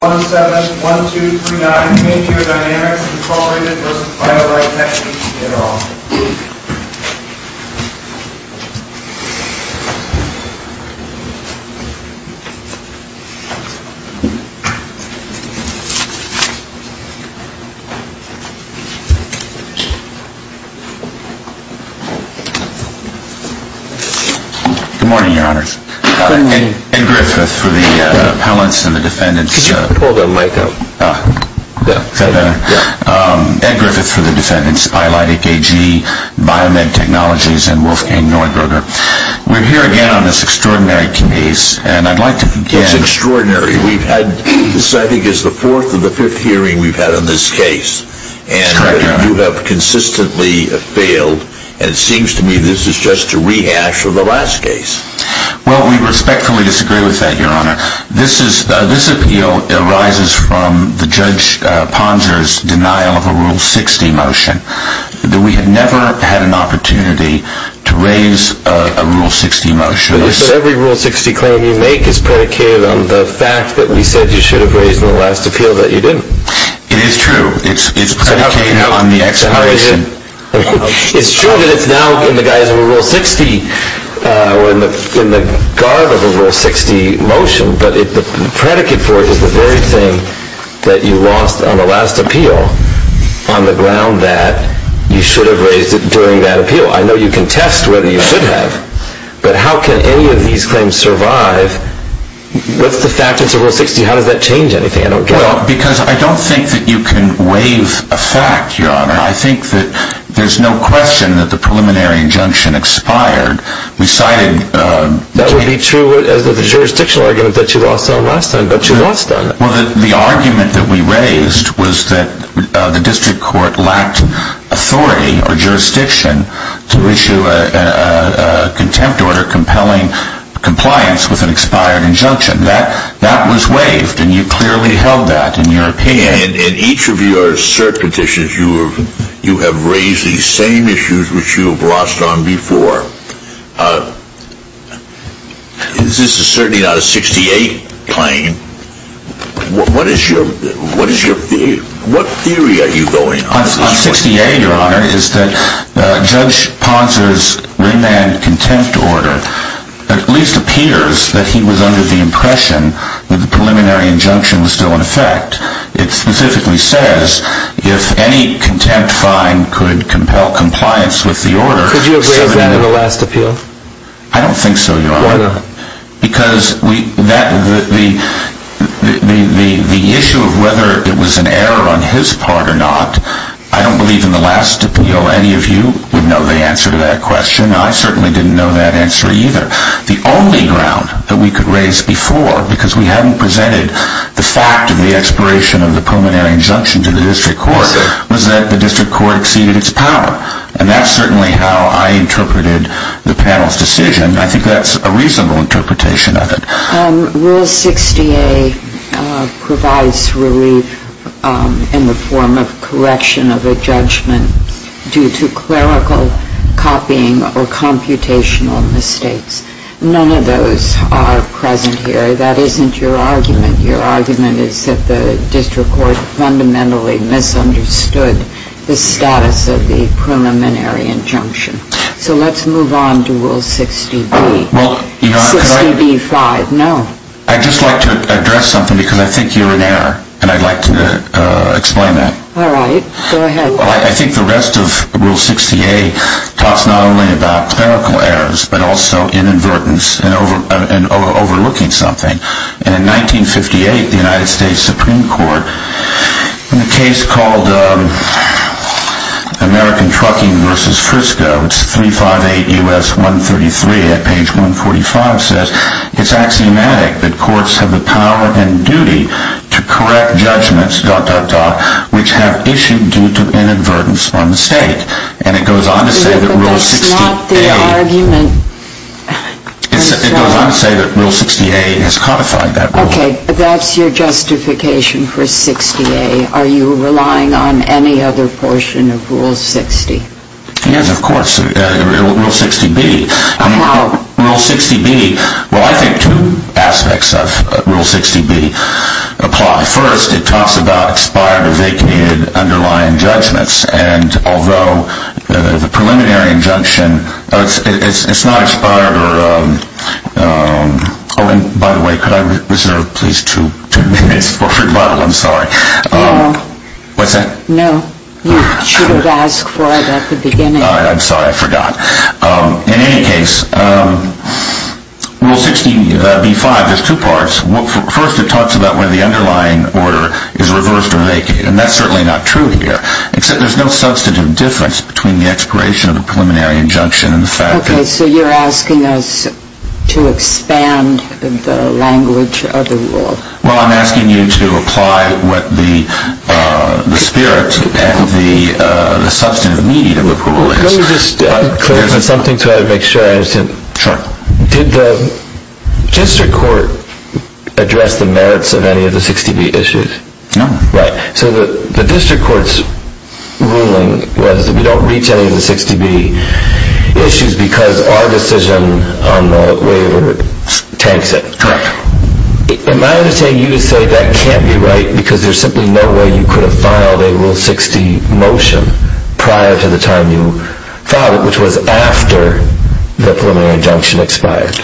1-7-1-2-3-9, MangioDynamics, Inc. v. Biolitec AG, et al. Good morning, Your Honors. Good morning. Ed Griffith for the appellants and the defendants. Could you pull the mic up? Is that better? Ed Griffith for the defendants, Biolitec AG, Biomed Technologies, and Wolfgang Neuberger. We're here again on this extraordinary case, and I'd like to begin... It's extraordinary. This, I think, is the fourth or the fifth hearing we've had on this case. That's correct, Your Honor. And you have consistently failed, and it seems to me this is just a rehash of the last case. Well, we respectfully disagree with that, Your Honor. This appeal arises from the Judge Ponser's denial of a Rule 60 motion. We have never had an opportunity to raise a Rule 60 motion. But every Rule 60 claim you make is predicated on the fact that you said you should have raised in the last appeal that you didn't. It is true. It's predicated on the explanation. It's true that it's now in the guise of a Rule 60 or in the garb of a Rule 60 motion, but the predicate for it is the very thing that you lost on the last appeal on the ground that you should have raised it during that appeal. I know you contest whether you should have, but how can any of these claims survive? What's the fact that it's a Rule 60? How does that change anything? I don't get it. Well, because I don't think that you can waive a fact, Your Honor. I think that there's no question that the preliminary injunction expired. That would be true as to the jurisdictional argument that you lost on last time, but you lost on it. Well, the argument that we raised was that the district court lacked authority or jurisdiction to issue a contempt order compelling compliance with an expired injunction. That was waived, and you clearly held that in your opinion. In each of your cert petitions, you have raised these same issues which you have lost on before. This is certainly not a 68 claim. What theory are you going on? On 68, Your Honor, is that Judge Ponser's remand contempt order at least appears that he was under the impression that the preliminary injunction was still in effect. It specifically says if any contempt fine could compel compliance with the order... Could you agree with that in the last appeal? I don't think so, Your Honor. Why not? Because the issue of whether it was an error on his part or not, I don't believe in the last appeal any of you would know the answer to that question. I certainly didn't know that answer either. The only ground that we could raise before, because we haven't presented the fact of the expiration of the preliminary injunction to the district court, was that the district court exceeded its power. And that's certainly how I interpreted the panel's decision. I think that's a reasonable interpretation of it. Rule 60A provides relief in the form of correction of a judgment due to clerical copying or computational mistakes. None of those are present here. That isn't your argument. Your argument is that the district court fundamentally misunderstood the status of the preliminary injunction. So let's move on to Rule 60B. 60B-5. No. I'd just like to address something, because I think you're in error, and I'd like to explain that. All right. Go ahead. I think the rest of Rule 60A talks not only about clerical errors, but also inadvertence and overlooking something. And in 1958, the United States Supreme Court, in a case called American Trucking v. Frisco, 358 U.S. 133 at page 145, says, It's axiomatic that courts have the power and duty to correct judgments… which have issued due to inadvertence or mistake. But that's not the argument. It goes on to say that Rule 60A has codified that rule. Okay. That's your justification for 60A. Are you relying on any other portion of Rule 60? Yes, of course. Rule 60B. How? Rule 60B. Well, I think two aspects of Rule 60B apply. First, it talks about expired or vacated underlying judgments. And although the preliminary injunction, it's not expired or… Oh, and by the way, could I reserve, please, two minutes for rebuttal? I'm sorry. No. What's that? No. You should have asked for it at the beginning. I'm sorry. I forgot. In any case, Rule 60B.5, there's two parts. First, it talks about when the underlying order is reversed or vacated. And that's certainly not true here. Except there's no substantive difference between the expiration of a preliminary injunction and the fact that… Okay. So you're asking us to expand the language of the rule. Well, I'm asking you to apply what the spirit and the substantive need of approval is. Could I just clarify something to make sure I understand? Sure. Did the district court address the merits of any of the 60B issues? No. Right. So the district court's ruling was that we don't reach any of the 60B issues because our decision on the waiver tanks it. Correct. Am I understanding you to say that can't be right because there's simply no way you could have filed a Rule 60 motion prior to the time you filed it, which was after the preliminary injunction expired?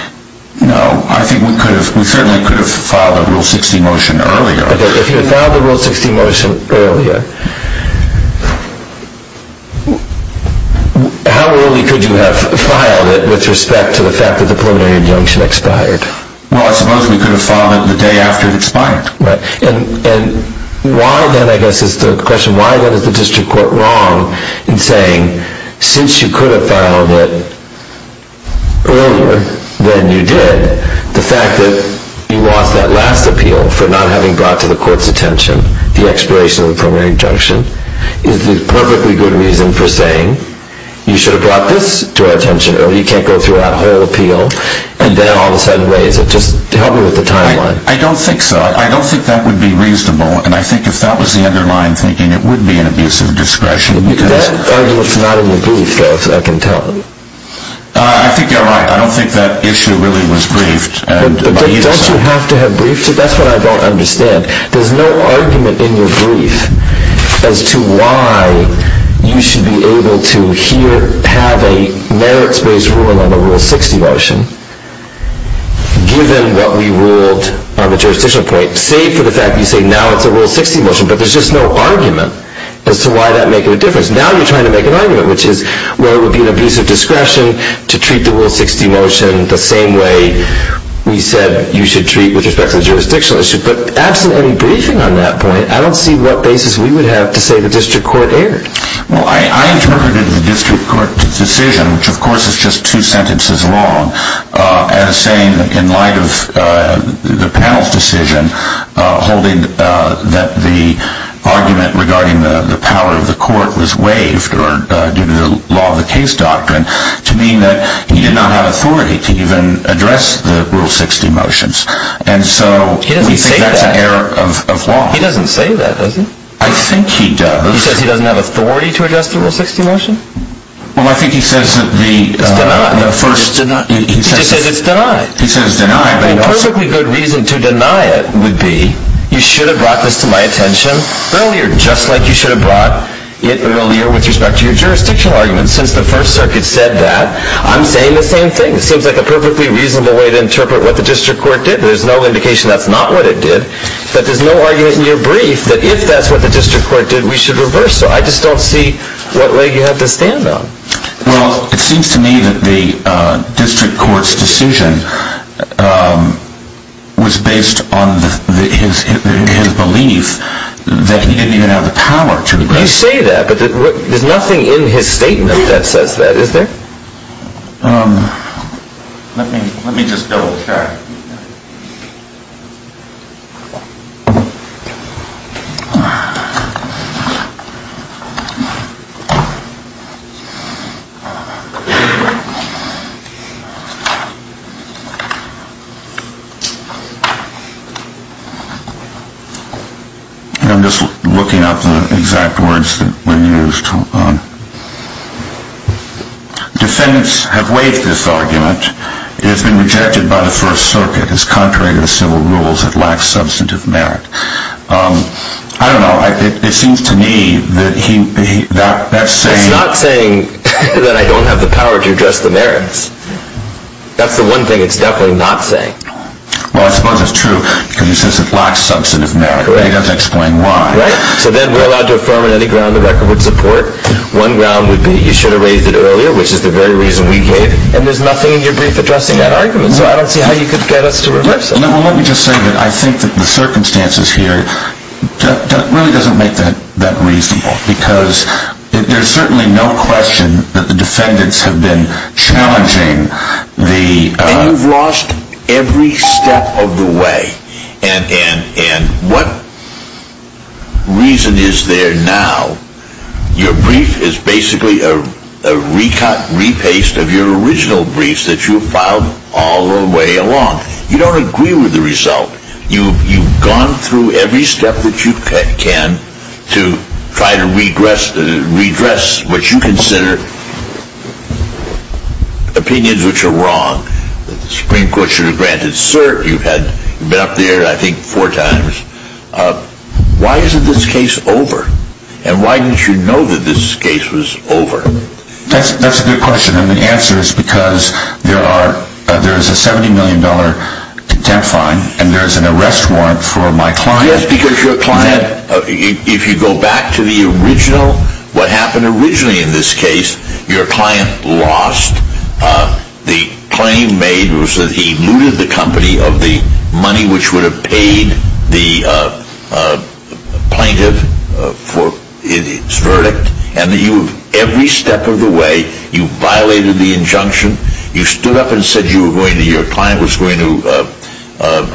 No. I think we certainly could have filed a Rule 60 motion earlier. If you had filed a Rule 60 motion earlier, how early could you have filed it with respect to the fact that the preliminary injunction expired? Well, I suppose we could have filed it the day after it expired. And why then, I guess, is the question, why then is the district court wrong in saying since you could have filed it earlier than you did, the fact that you lost that last appeal for not having brought to the court's attention the expiration of the preliminary injunction is the perfectly good reason for saying you should have brought this to our attention earlier. You can't go through that whole appeal and then all of a sudden raise it. Just help me with the timeline. I don't think so. I don't think that would be reasonable. And I think if that was the underlying thinking, it would be an abuse of discretion. That argument's not in your brief, though, if I can tell. I think you're right. I don't think that issue really was briefed. But don't you have to have briefed it? That's what I don't understand. There's no argument in your brief as to why you should be able to have a merits-based ruling on the Rule 60 motion, given what we ruled on the jurisdictional point, save for the fact that you say now it's a Rule 60 motion. But there's just no argument as to why that would make a difference. Now you're trying to make an argument, which is where it would be an abuse of discretion to treat the Rule 60 motion the same way we said you should treat it with respect to the jurisdictional issue. But absent any briefing on that point, I don't see what basis we would have to say the district court erred. Well, I interpreted the district court decision, which of course is just two sentences long, as saying in light of the panel's decision holding that the argument regarding the power of the court was waived due to the law of the case doctrine to mean that he did not have authority to even address the Rule 60 motions. And so we think that's an error of law. He doesn't say that, does he? I think he does. He says he doesn't have authority to address the Rule 60 motion? Well, I think he says that the first... He says it's denied. He says it's denied. A perfectly good reason to deny it would be you should have brought this to my attention earlier, just like you should have brought it earlier with respect to your jurisdictional argument. Since the First Circuit said that, I'm saying the same thing. It seems like a perfectly reasonable way to interpret what the district court did. There's no indication that's not what it did. But there's no argument in your brief that if that's what the district court did, we should reverse it. I just don't see what leg you have to stand on. Well, it seems to me that the district court's decision was based on his belief that he didn't even have the power to address... You say that, but there's nothing in his statement that says that, is there? Let me just double check. I'm just looking up the exact words that were used. Defendants have waived this argument. It has been rejected by the First Circuit. It is contrary to the civil rules. It lacks substantive merit. I don't know. It seems to me that that saying... It's not saying that I don't have the power to address the merits. That's the one thing it's definitely not saying. Well, I suppose it's true, because he says it lacks substantive merit, but he doesn't explain why. So then we're allowed to affirm on any ground the record would support. One ground would be you should have raised it earlier, which is the very reason we gave. And there's nothing in your brief addressing that argument, so I don't see how you could get us to reverse it. Let me just say that I think that the circumstances here really doesn't make that reasonable, because there's certainly no question that the defendants have been challenging the... And you've lost every step of the way. And what reason is there now? Your brief is basically a re-cut, re-paste of your original briefs that you filed all the way along. You don't agree with the result. You've gone through every step that you can to try to redress what you consider opinions which are wrong. The Supreme Court should have granted cert. You've been up there, I think, four times. Why isn't this case over? And why didn't you know that this case was over? That's a good question, and the answer is because there is a $70 million contempt fine, and there is an arrest warrant for my client. Yes, because your client, if you go back to the original, what happened originally in this case, your client lost. The claim made was that he looted the company of the money which would have paid the plaintiff for its verdict. And every step of the way, you violated the injunction. You stood up and said your client was going to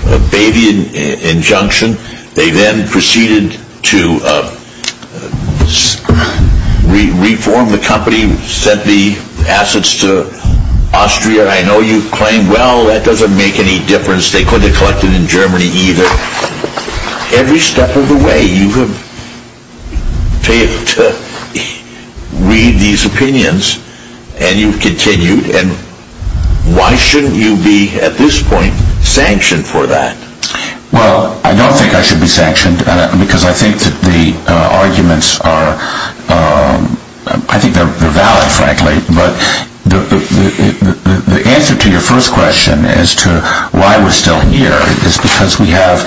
obey the injunction. They then proceeded to reform the company, sent the assets to Austria. I know you've claimed, well, that doesn't make any difference. They couldn't have collected in Germany either. Every step of the way, you have failed to read these opinions, and you've continued. And why shouldn't you be, at this point, sanctioned for that? Well, I don't think I should be sanctioned, because I think that the arguments are, I think they're valid, frankly, but the answer to your first question as to why we're still here is because we have,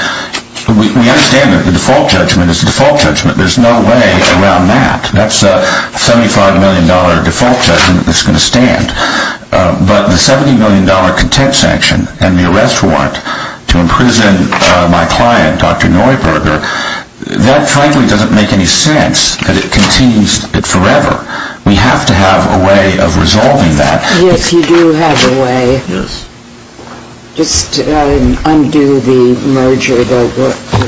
we understand that the default judgment is the default judgment. There's no way around that. That's a $75 million default judgment that's going to stand. But the $70 million contempt sanction and the arrest warrant to imprison my client, Dr. Neuberger, that frankly doesn't make any sense, that it continues forever. We have to have a way of resolving that. Yes, you do have a way. Yes. Just undo the merger that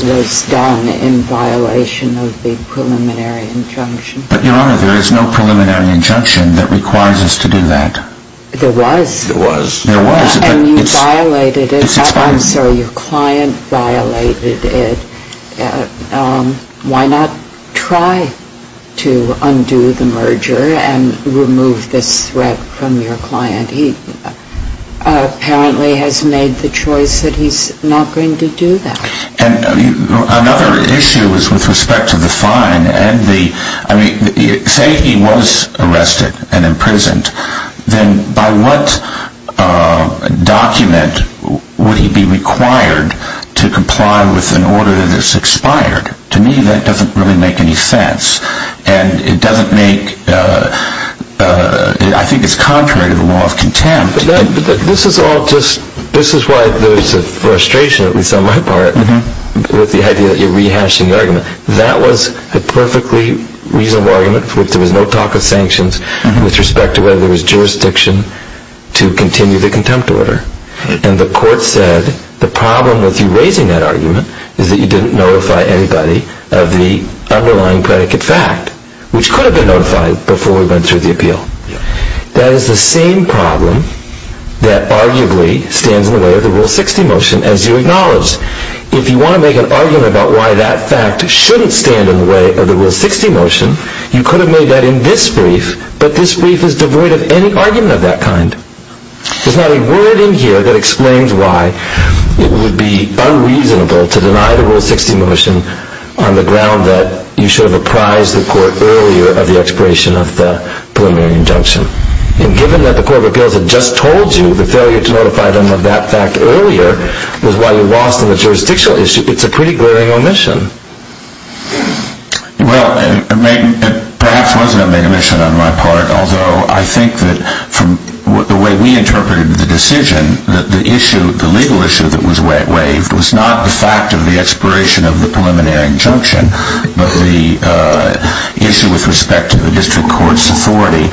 was done in violation of the preliminary injunction. But, Your Honor, there is no preliminary injunction that requires us to do that. There was. There was. There was. And you violated it. I'm sorry, your client violated it. Why not try to undo the merger and remove this threat from your client? He apparently has made the choice that he's not going to do that. And another issue is with respect to the fine and the, I mean, say he was arrested and imprisoned, then by what document would he be required to comply with an order that is expired? To me that doesn't really make any sense. And it doesn't make, I think it's contrary to the law of contempt. This is all just, this is why there's a frustration, at least on my part, with the idea that you're rehashing the argument. That was a perfectly reasonable argument in which there was no talk of sanctions with respect to whether there was jurisdiction to continue the contempt order. And the court said the problem with you raising that argument is that you didn't notify anybody of the underlying predicate fact, which could have been notified before we went through the appeal. That is the same problem that arguably stands in the way of the Rule 60 motion as you acknowledge. If you want to make an argument about why that fact shouldn't stand in the way of the Rule 60 motion, you could have made that in this brief, but this brief is devoid of any argument of that kind. There's not a word in here that explains why it would be unreasonable to deny the Rule 60 motion on the ground that you should have apprised the court earlier of the expiration of the preliminary injunction. And given that the Court of Appeals had just told you the failure to notify them of that fact earlier was why you lost on the jurisdictional issue, it's a pretty glaring omission. Well, it perhaps wasn't a main omission on my part, although I think that from the way we interpreted the decision, the legal issue that was waived was not the fact of the expiration of the preliminary injunction, but the issue with respect to the district court's authority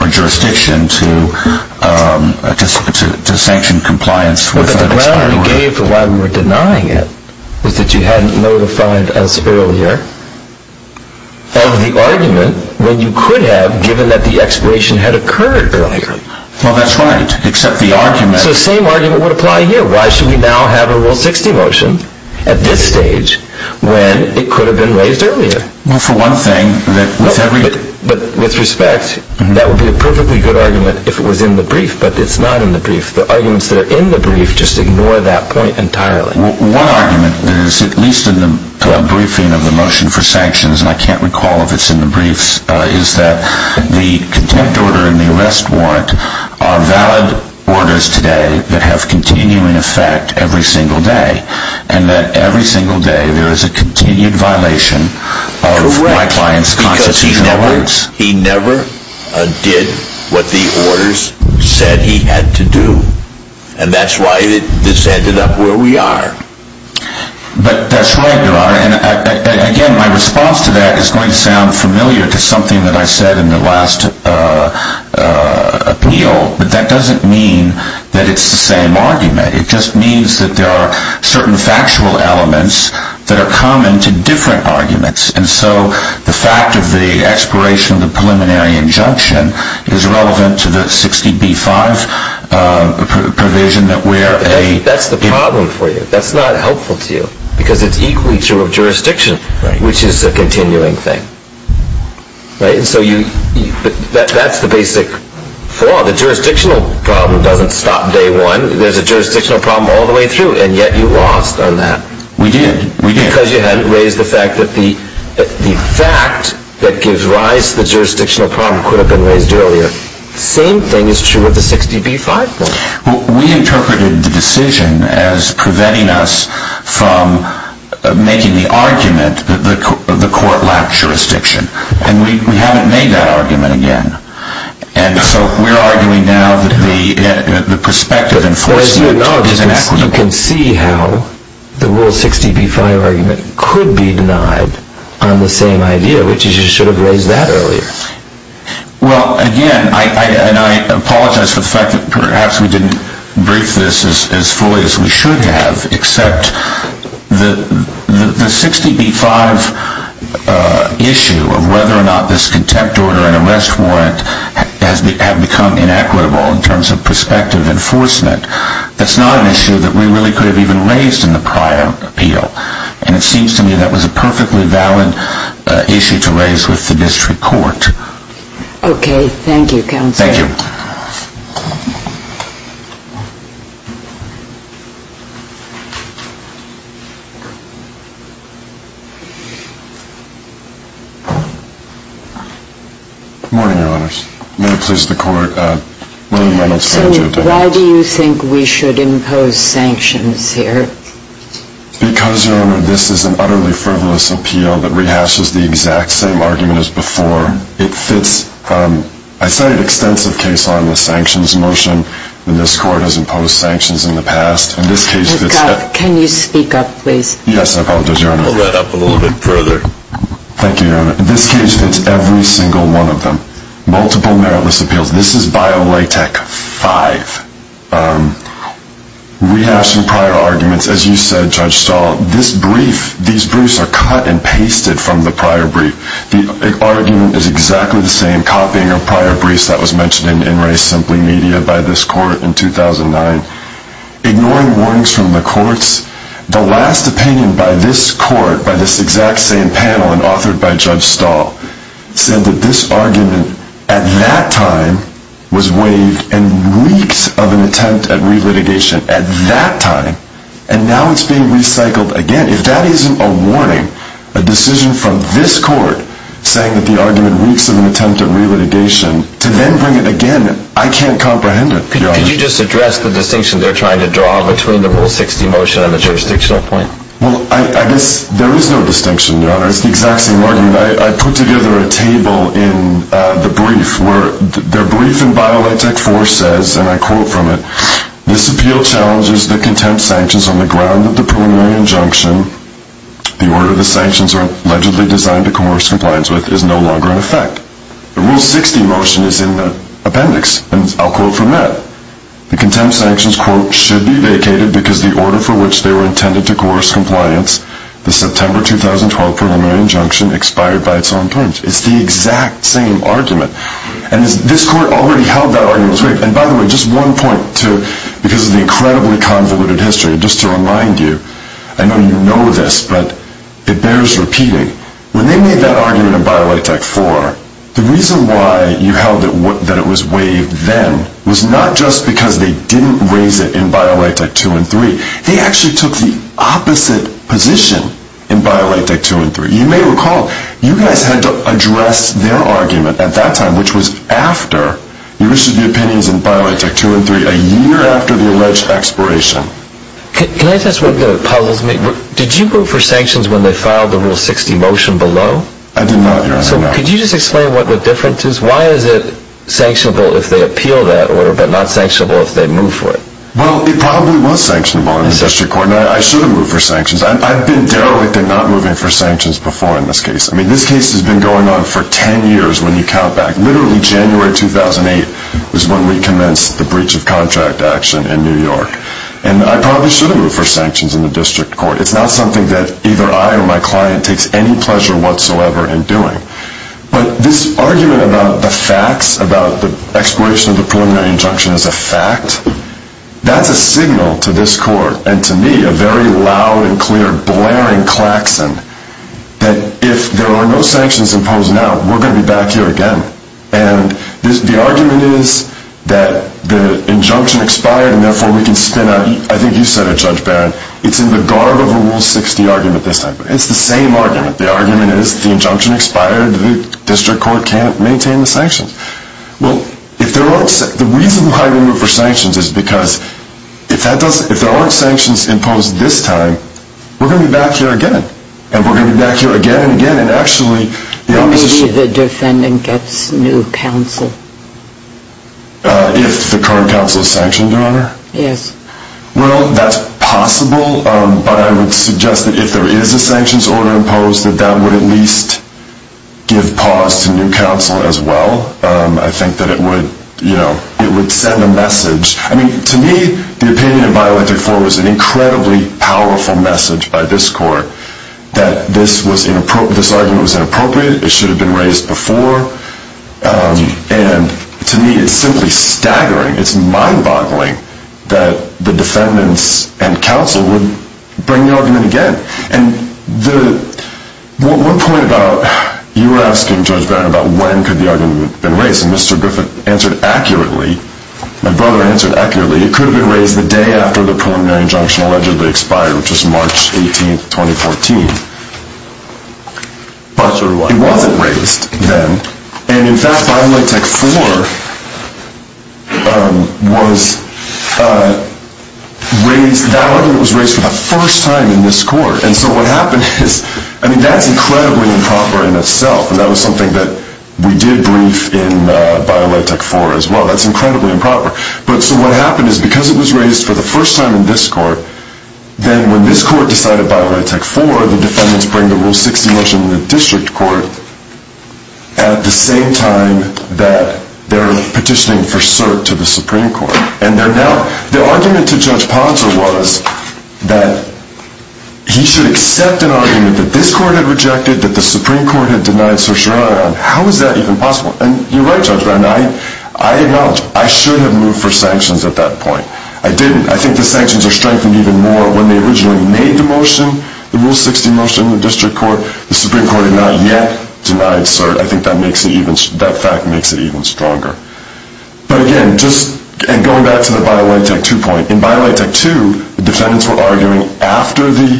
or jurisdiction to sanction compliance without expiration. But the ground you gave for why we were denying it was that you hadn't notified us earlier of the argument when you could have given that the expiration had occurred earlier. Well, that's right, except the argument... So the same argument would apply here. Why should we now have a Rule 60 motion at this stage when it could have been waived earlier? Well, for one thing... But with respect, that would be a perfectly good argument if it was in the brief, but it's not in the brief. The arguments that are in the brief just ignore that point entirely. One argument that is at least in the briefing of the motion for sanctions, and I can't recall if it's in the brief, is that the contempt order and the arrest warrant are valid orders today that have continuing effect every single day, and that every single day there is a continued violation of my client's constitutional rights. Correct, because he never did what the orders said he had to do, and that's why this ended up where we are. But that's right, Your Honor, and again, my response to that is going to sound familiar to something that I said in the last appeal, but that doesn't mean that it's the same argument. It just means that there are certain factual elements that are common to different arguments, and so the fact of the expiration of the preliminary injunction is relevant to the 60b-5 provision that we're a... That's not helpful to you, because it's equally true of jurisdiction, which is a continuing thing. Right, and so that's the basic flaw. The jurisdictional problem doesn't stop day one. There's a jurisdictional problem all the way through, and yet you lost on that. We did. Because you hadn't raised the fact that the fact that gives rise to the jurisdictional problem could have been raised earlier. The same thing is true of the 60b-5 provision. We interpreted the decision as preventing us from making the argument that the court lacked jurisdiction, and we haven't made that argument again. And so we're arguing now that the perspective enforcing it is inequitable. Well, as you acknowledge this, you can see how the Rule 60b-5 argument could be denied on the same idea, which is you should have raised that earlier. Well, again, and I apologize for the fact that perhaps we didn't brief this as fully as we should have, except the 60b-5 issue of whether or not this contempt order and arrest warrant have become inequitable in terms of perspective enforcement, that's not an issue that we really could have even raised in the prior appeal. And it seems to me that was a perfectly valid issue to raise with the district court. Okay. Thank you, Counselor. Thank you. Good morning, Your Honors. May it please the Court, William Reynolds. So why do you think we should impose sanctions here? Because, Your Honor, this is an utterly frivolous appeal that rehashes the exact same argument as before. It fits, I cited an extensive case on the sanctions motion, and this Court has imposed sanctions in the past. And this case fits that. Can you speak up, please? Yes, I apologize, Your Honor. Pull that up a little bit further. Thank you, Your Honor. This case fits every single one of them. Multiple meritless appeals. This is Bio-Latex 5. Rehashing prior arguments. As you said, Judge Stahl, this brief, these briefs are cut and pasted from the prior brief. The argument is exactly the same, copying a prior brief that was mentioned in In Race Simply Media by this Court in 2009. Ignoring warnings from the courts, the last opinion by this Court, by this exact same panel and authored by Judge Stahl, said that this argument, at that time, was waived and weeks of an attempt at re-litigation. At that time. And now it's being recycled again. If that isn't a warning, a decision from this Court, saying that the argument weeks of an attempt at re-litigation, to then bring it again, I can't comprehend it. Could you just address the distinction they're trying to draw between the Rule 60 motion and the jurisdictional point? Well, I guess there is no distinction, Your Honor. It's the exact same argument. I put together a table in the brief, where the brief in Biolitech 4 says, and I quote from it, this appeal challenges the contempt sanctions on the ground that the preliminary injunction, the order the sanctions are allegedly designed to coerce compliance with, is no longer in effect. The Rule 60 motion is in the appendix, and I'll quote from that. The contempt sanctions, quote, should be vacated because the order for which they were intended to coerce compliance, the September 2012 preliminary injunction, expired by its own terms. It's the exact same argument. And this Court already held that argument was waived. And by the way, just one point, because of the incredibly convoluted history, just to remind you, I know you know this, but it bears repeating. When they made that argument in Biolitech 4, the reason why you held that it was waived then, was not just because they didn't raise it in Biolitech 2 and 3. They actually took the opposite position in Biolitech 2 and 3. You may recall, you guys had to address their argument at that time, which was after you issued the opinions in Biolitech 2 and 3, a year after the alleged expiration. Can I just ask one thing that puzzles me? Did you vote for sanctions when they filed the Rule 60 motion below? I did not, Your Honor, no. So could you just explain what the difference is? Why is it sanctionable if they appeal that order, but not sanctionable if they move for it? Well, it probably was sanctionable in the District Court, and I should have moved for sanctions. I've been derelict in not moving for sanctions before in this case. I mean, this case has been going on for 10 years when you count back. Literally January 2008 was when we commenced the breach of contract action in New York. And I probably should have moved for sanctions in the District Court. It's not something that either I or my client takes any pleasure whatsoever in doing. But this argument about the facts, about the expiration of the preliminary injunction as a fact, that's a signal to this Court, and to me, a very loud and clear blaring klaxon, that if there are no sanctions imposed now, we're going to be back here again. And the argument is that the injunction expired, and therefore we can spin a, I think you said it, Judge Barron, it's in the garb of a Rule 60 argument this time. It's the same argument. The argument is the injunction expired, the District Court can't maintain the sanctions. Well, the reason why we moved for sanctions is because if there aren't sanctions imposed this time, we're going to be back here again. And we're going to be back here again and again. And actually, the opposition... Maybe the defendant gets new counsel. If the current counsel is sanctioned, Your Honor? Yes. Well, that's possible, but I would suggest that if there is a sanctions order imposed, that that would at least give pause to new counsel as well. I think that it would, you know, it would send a message. I mean, to me, the opinion in bioethnic reform is an incredibly powerful message by this Court, that this argument was inappropriate, it should have been raised before. And to me, it's simply staggering. It's mind-boggling that the defendants and counsel would bring the argument again. And the... One point about... You were asking, Judge Barron, about when could the argument have been raised, and Mr. Griffith answered accurately, my brother answered accurately, it could have been raised the day after the preliminary injunction allegedly expired, which was March 18, 2014. But it wasn't raised then. And in fact, BioLitech IV was raised... That argument was raised for the first time in this Court. And so what happened is... I mean, that's incredibly improper in itself, and that was something that we did brief in BioLitech IV as well. That's incredibly improper. But so what happened is, because it was raised for the first time in this Court, then when this Court decided BioLitech IV, the defendants bring the Rule 60 motion to the District Court at the same time that they're petitioning for cert to the Supreme Court. And they're now... The argument to Judge Ponser was that he should accept an argument that this Court had rejected, that the Supreme Court had denied certiorari on. How is that even possible? And you're right, Judge Barron. I acknowledge, I should have moved for sanctions at that point. I didn't. I think the sanctions are strengthened even more when they originally made the motion, the Rule 60 motion to the District Court. The Supreme Court had not yet denied cert. I think that fact makes it even stronger. But again, just going back to the BioLitech II point, in BioLitech II, the defendants were arguing after the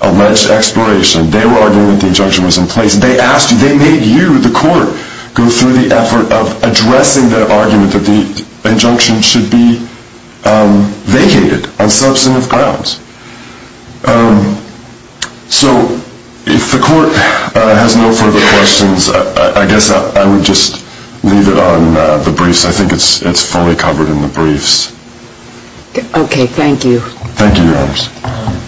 alleged exploration, they were arguing that the injunction was in place. They asked you, they made you, the Court, go through the effort of addressing the argument that the injunction should be vacated on substantive grounds. So, if the Court has no further questions, I guess I would just leave it on the briefs. I think it's fully covered in the briefs. Okay, thank you. Thank you, Your Honors. Your Honor,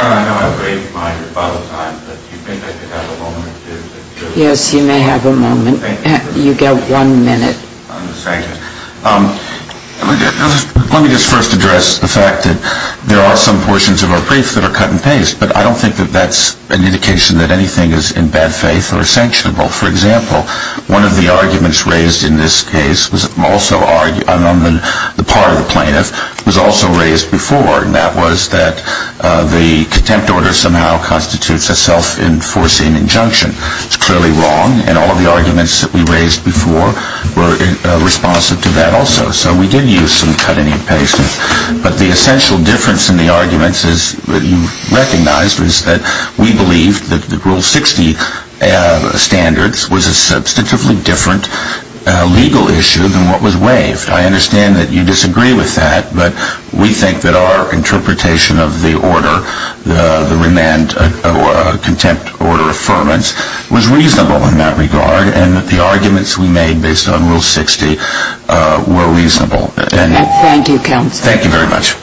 I know I've waived my rebuttal time, but do you think I could have a moment to... Yes, you may have a moment. You've got one minute. Thank you. Let me just first address the fact that there are some portions of our briefs that are cut and paste, but I don't think that that's an indication that anything is in bad faith or sanctionable. For example, one of the arguments raised in this case, on the part of the plaintiff, was also raised before, and that was that the contempt order somehow constitutes a self-enforcing injunction. It's clearly wrong, and all of the arguments that we raised before were responsive to that also. So we did use some cut and paste, but the essential difference in the arguments that you recognized was that we believed that the Rule 60 standards was a substantively different legal issue than what was waived. I understand that you disagree with that, but we think that our interpretation of the order, the remand contempt order affirmance, was reasonable in that regard, and that the arguments we made based on Rule 60 were reasonable. Thank you, Counsel. Thank you very much.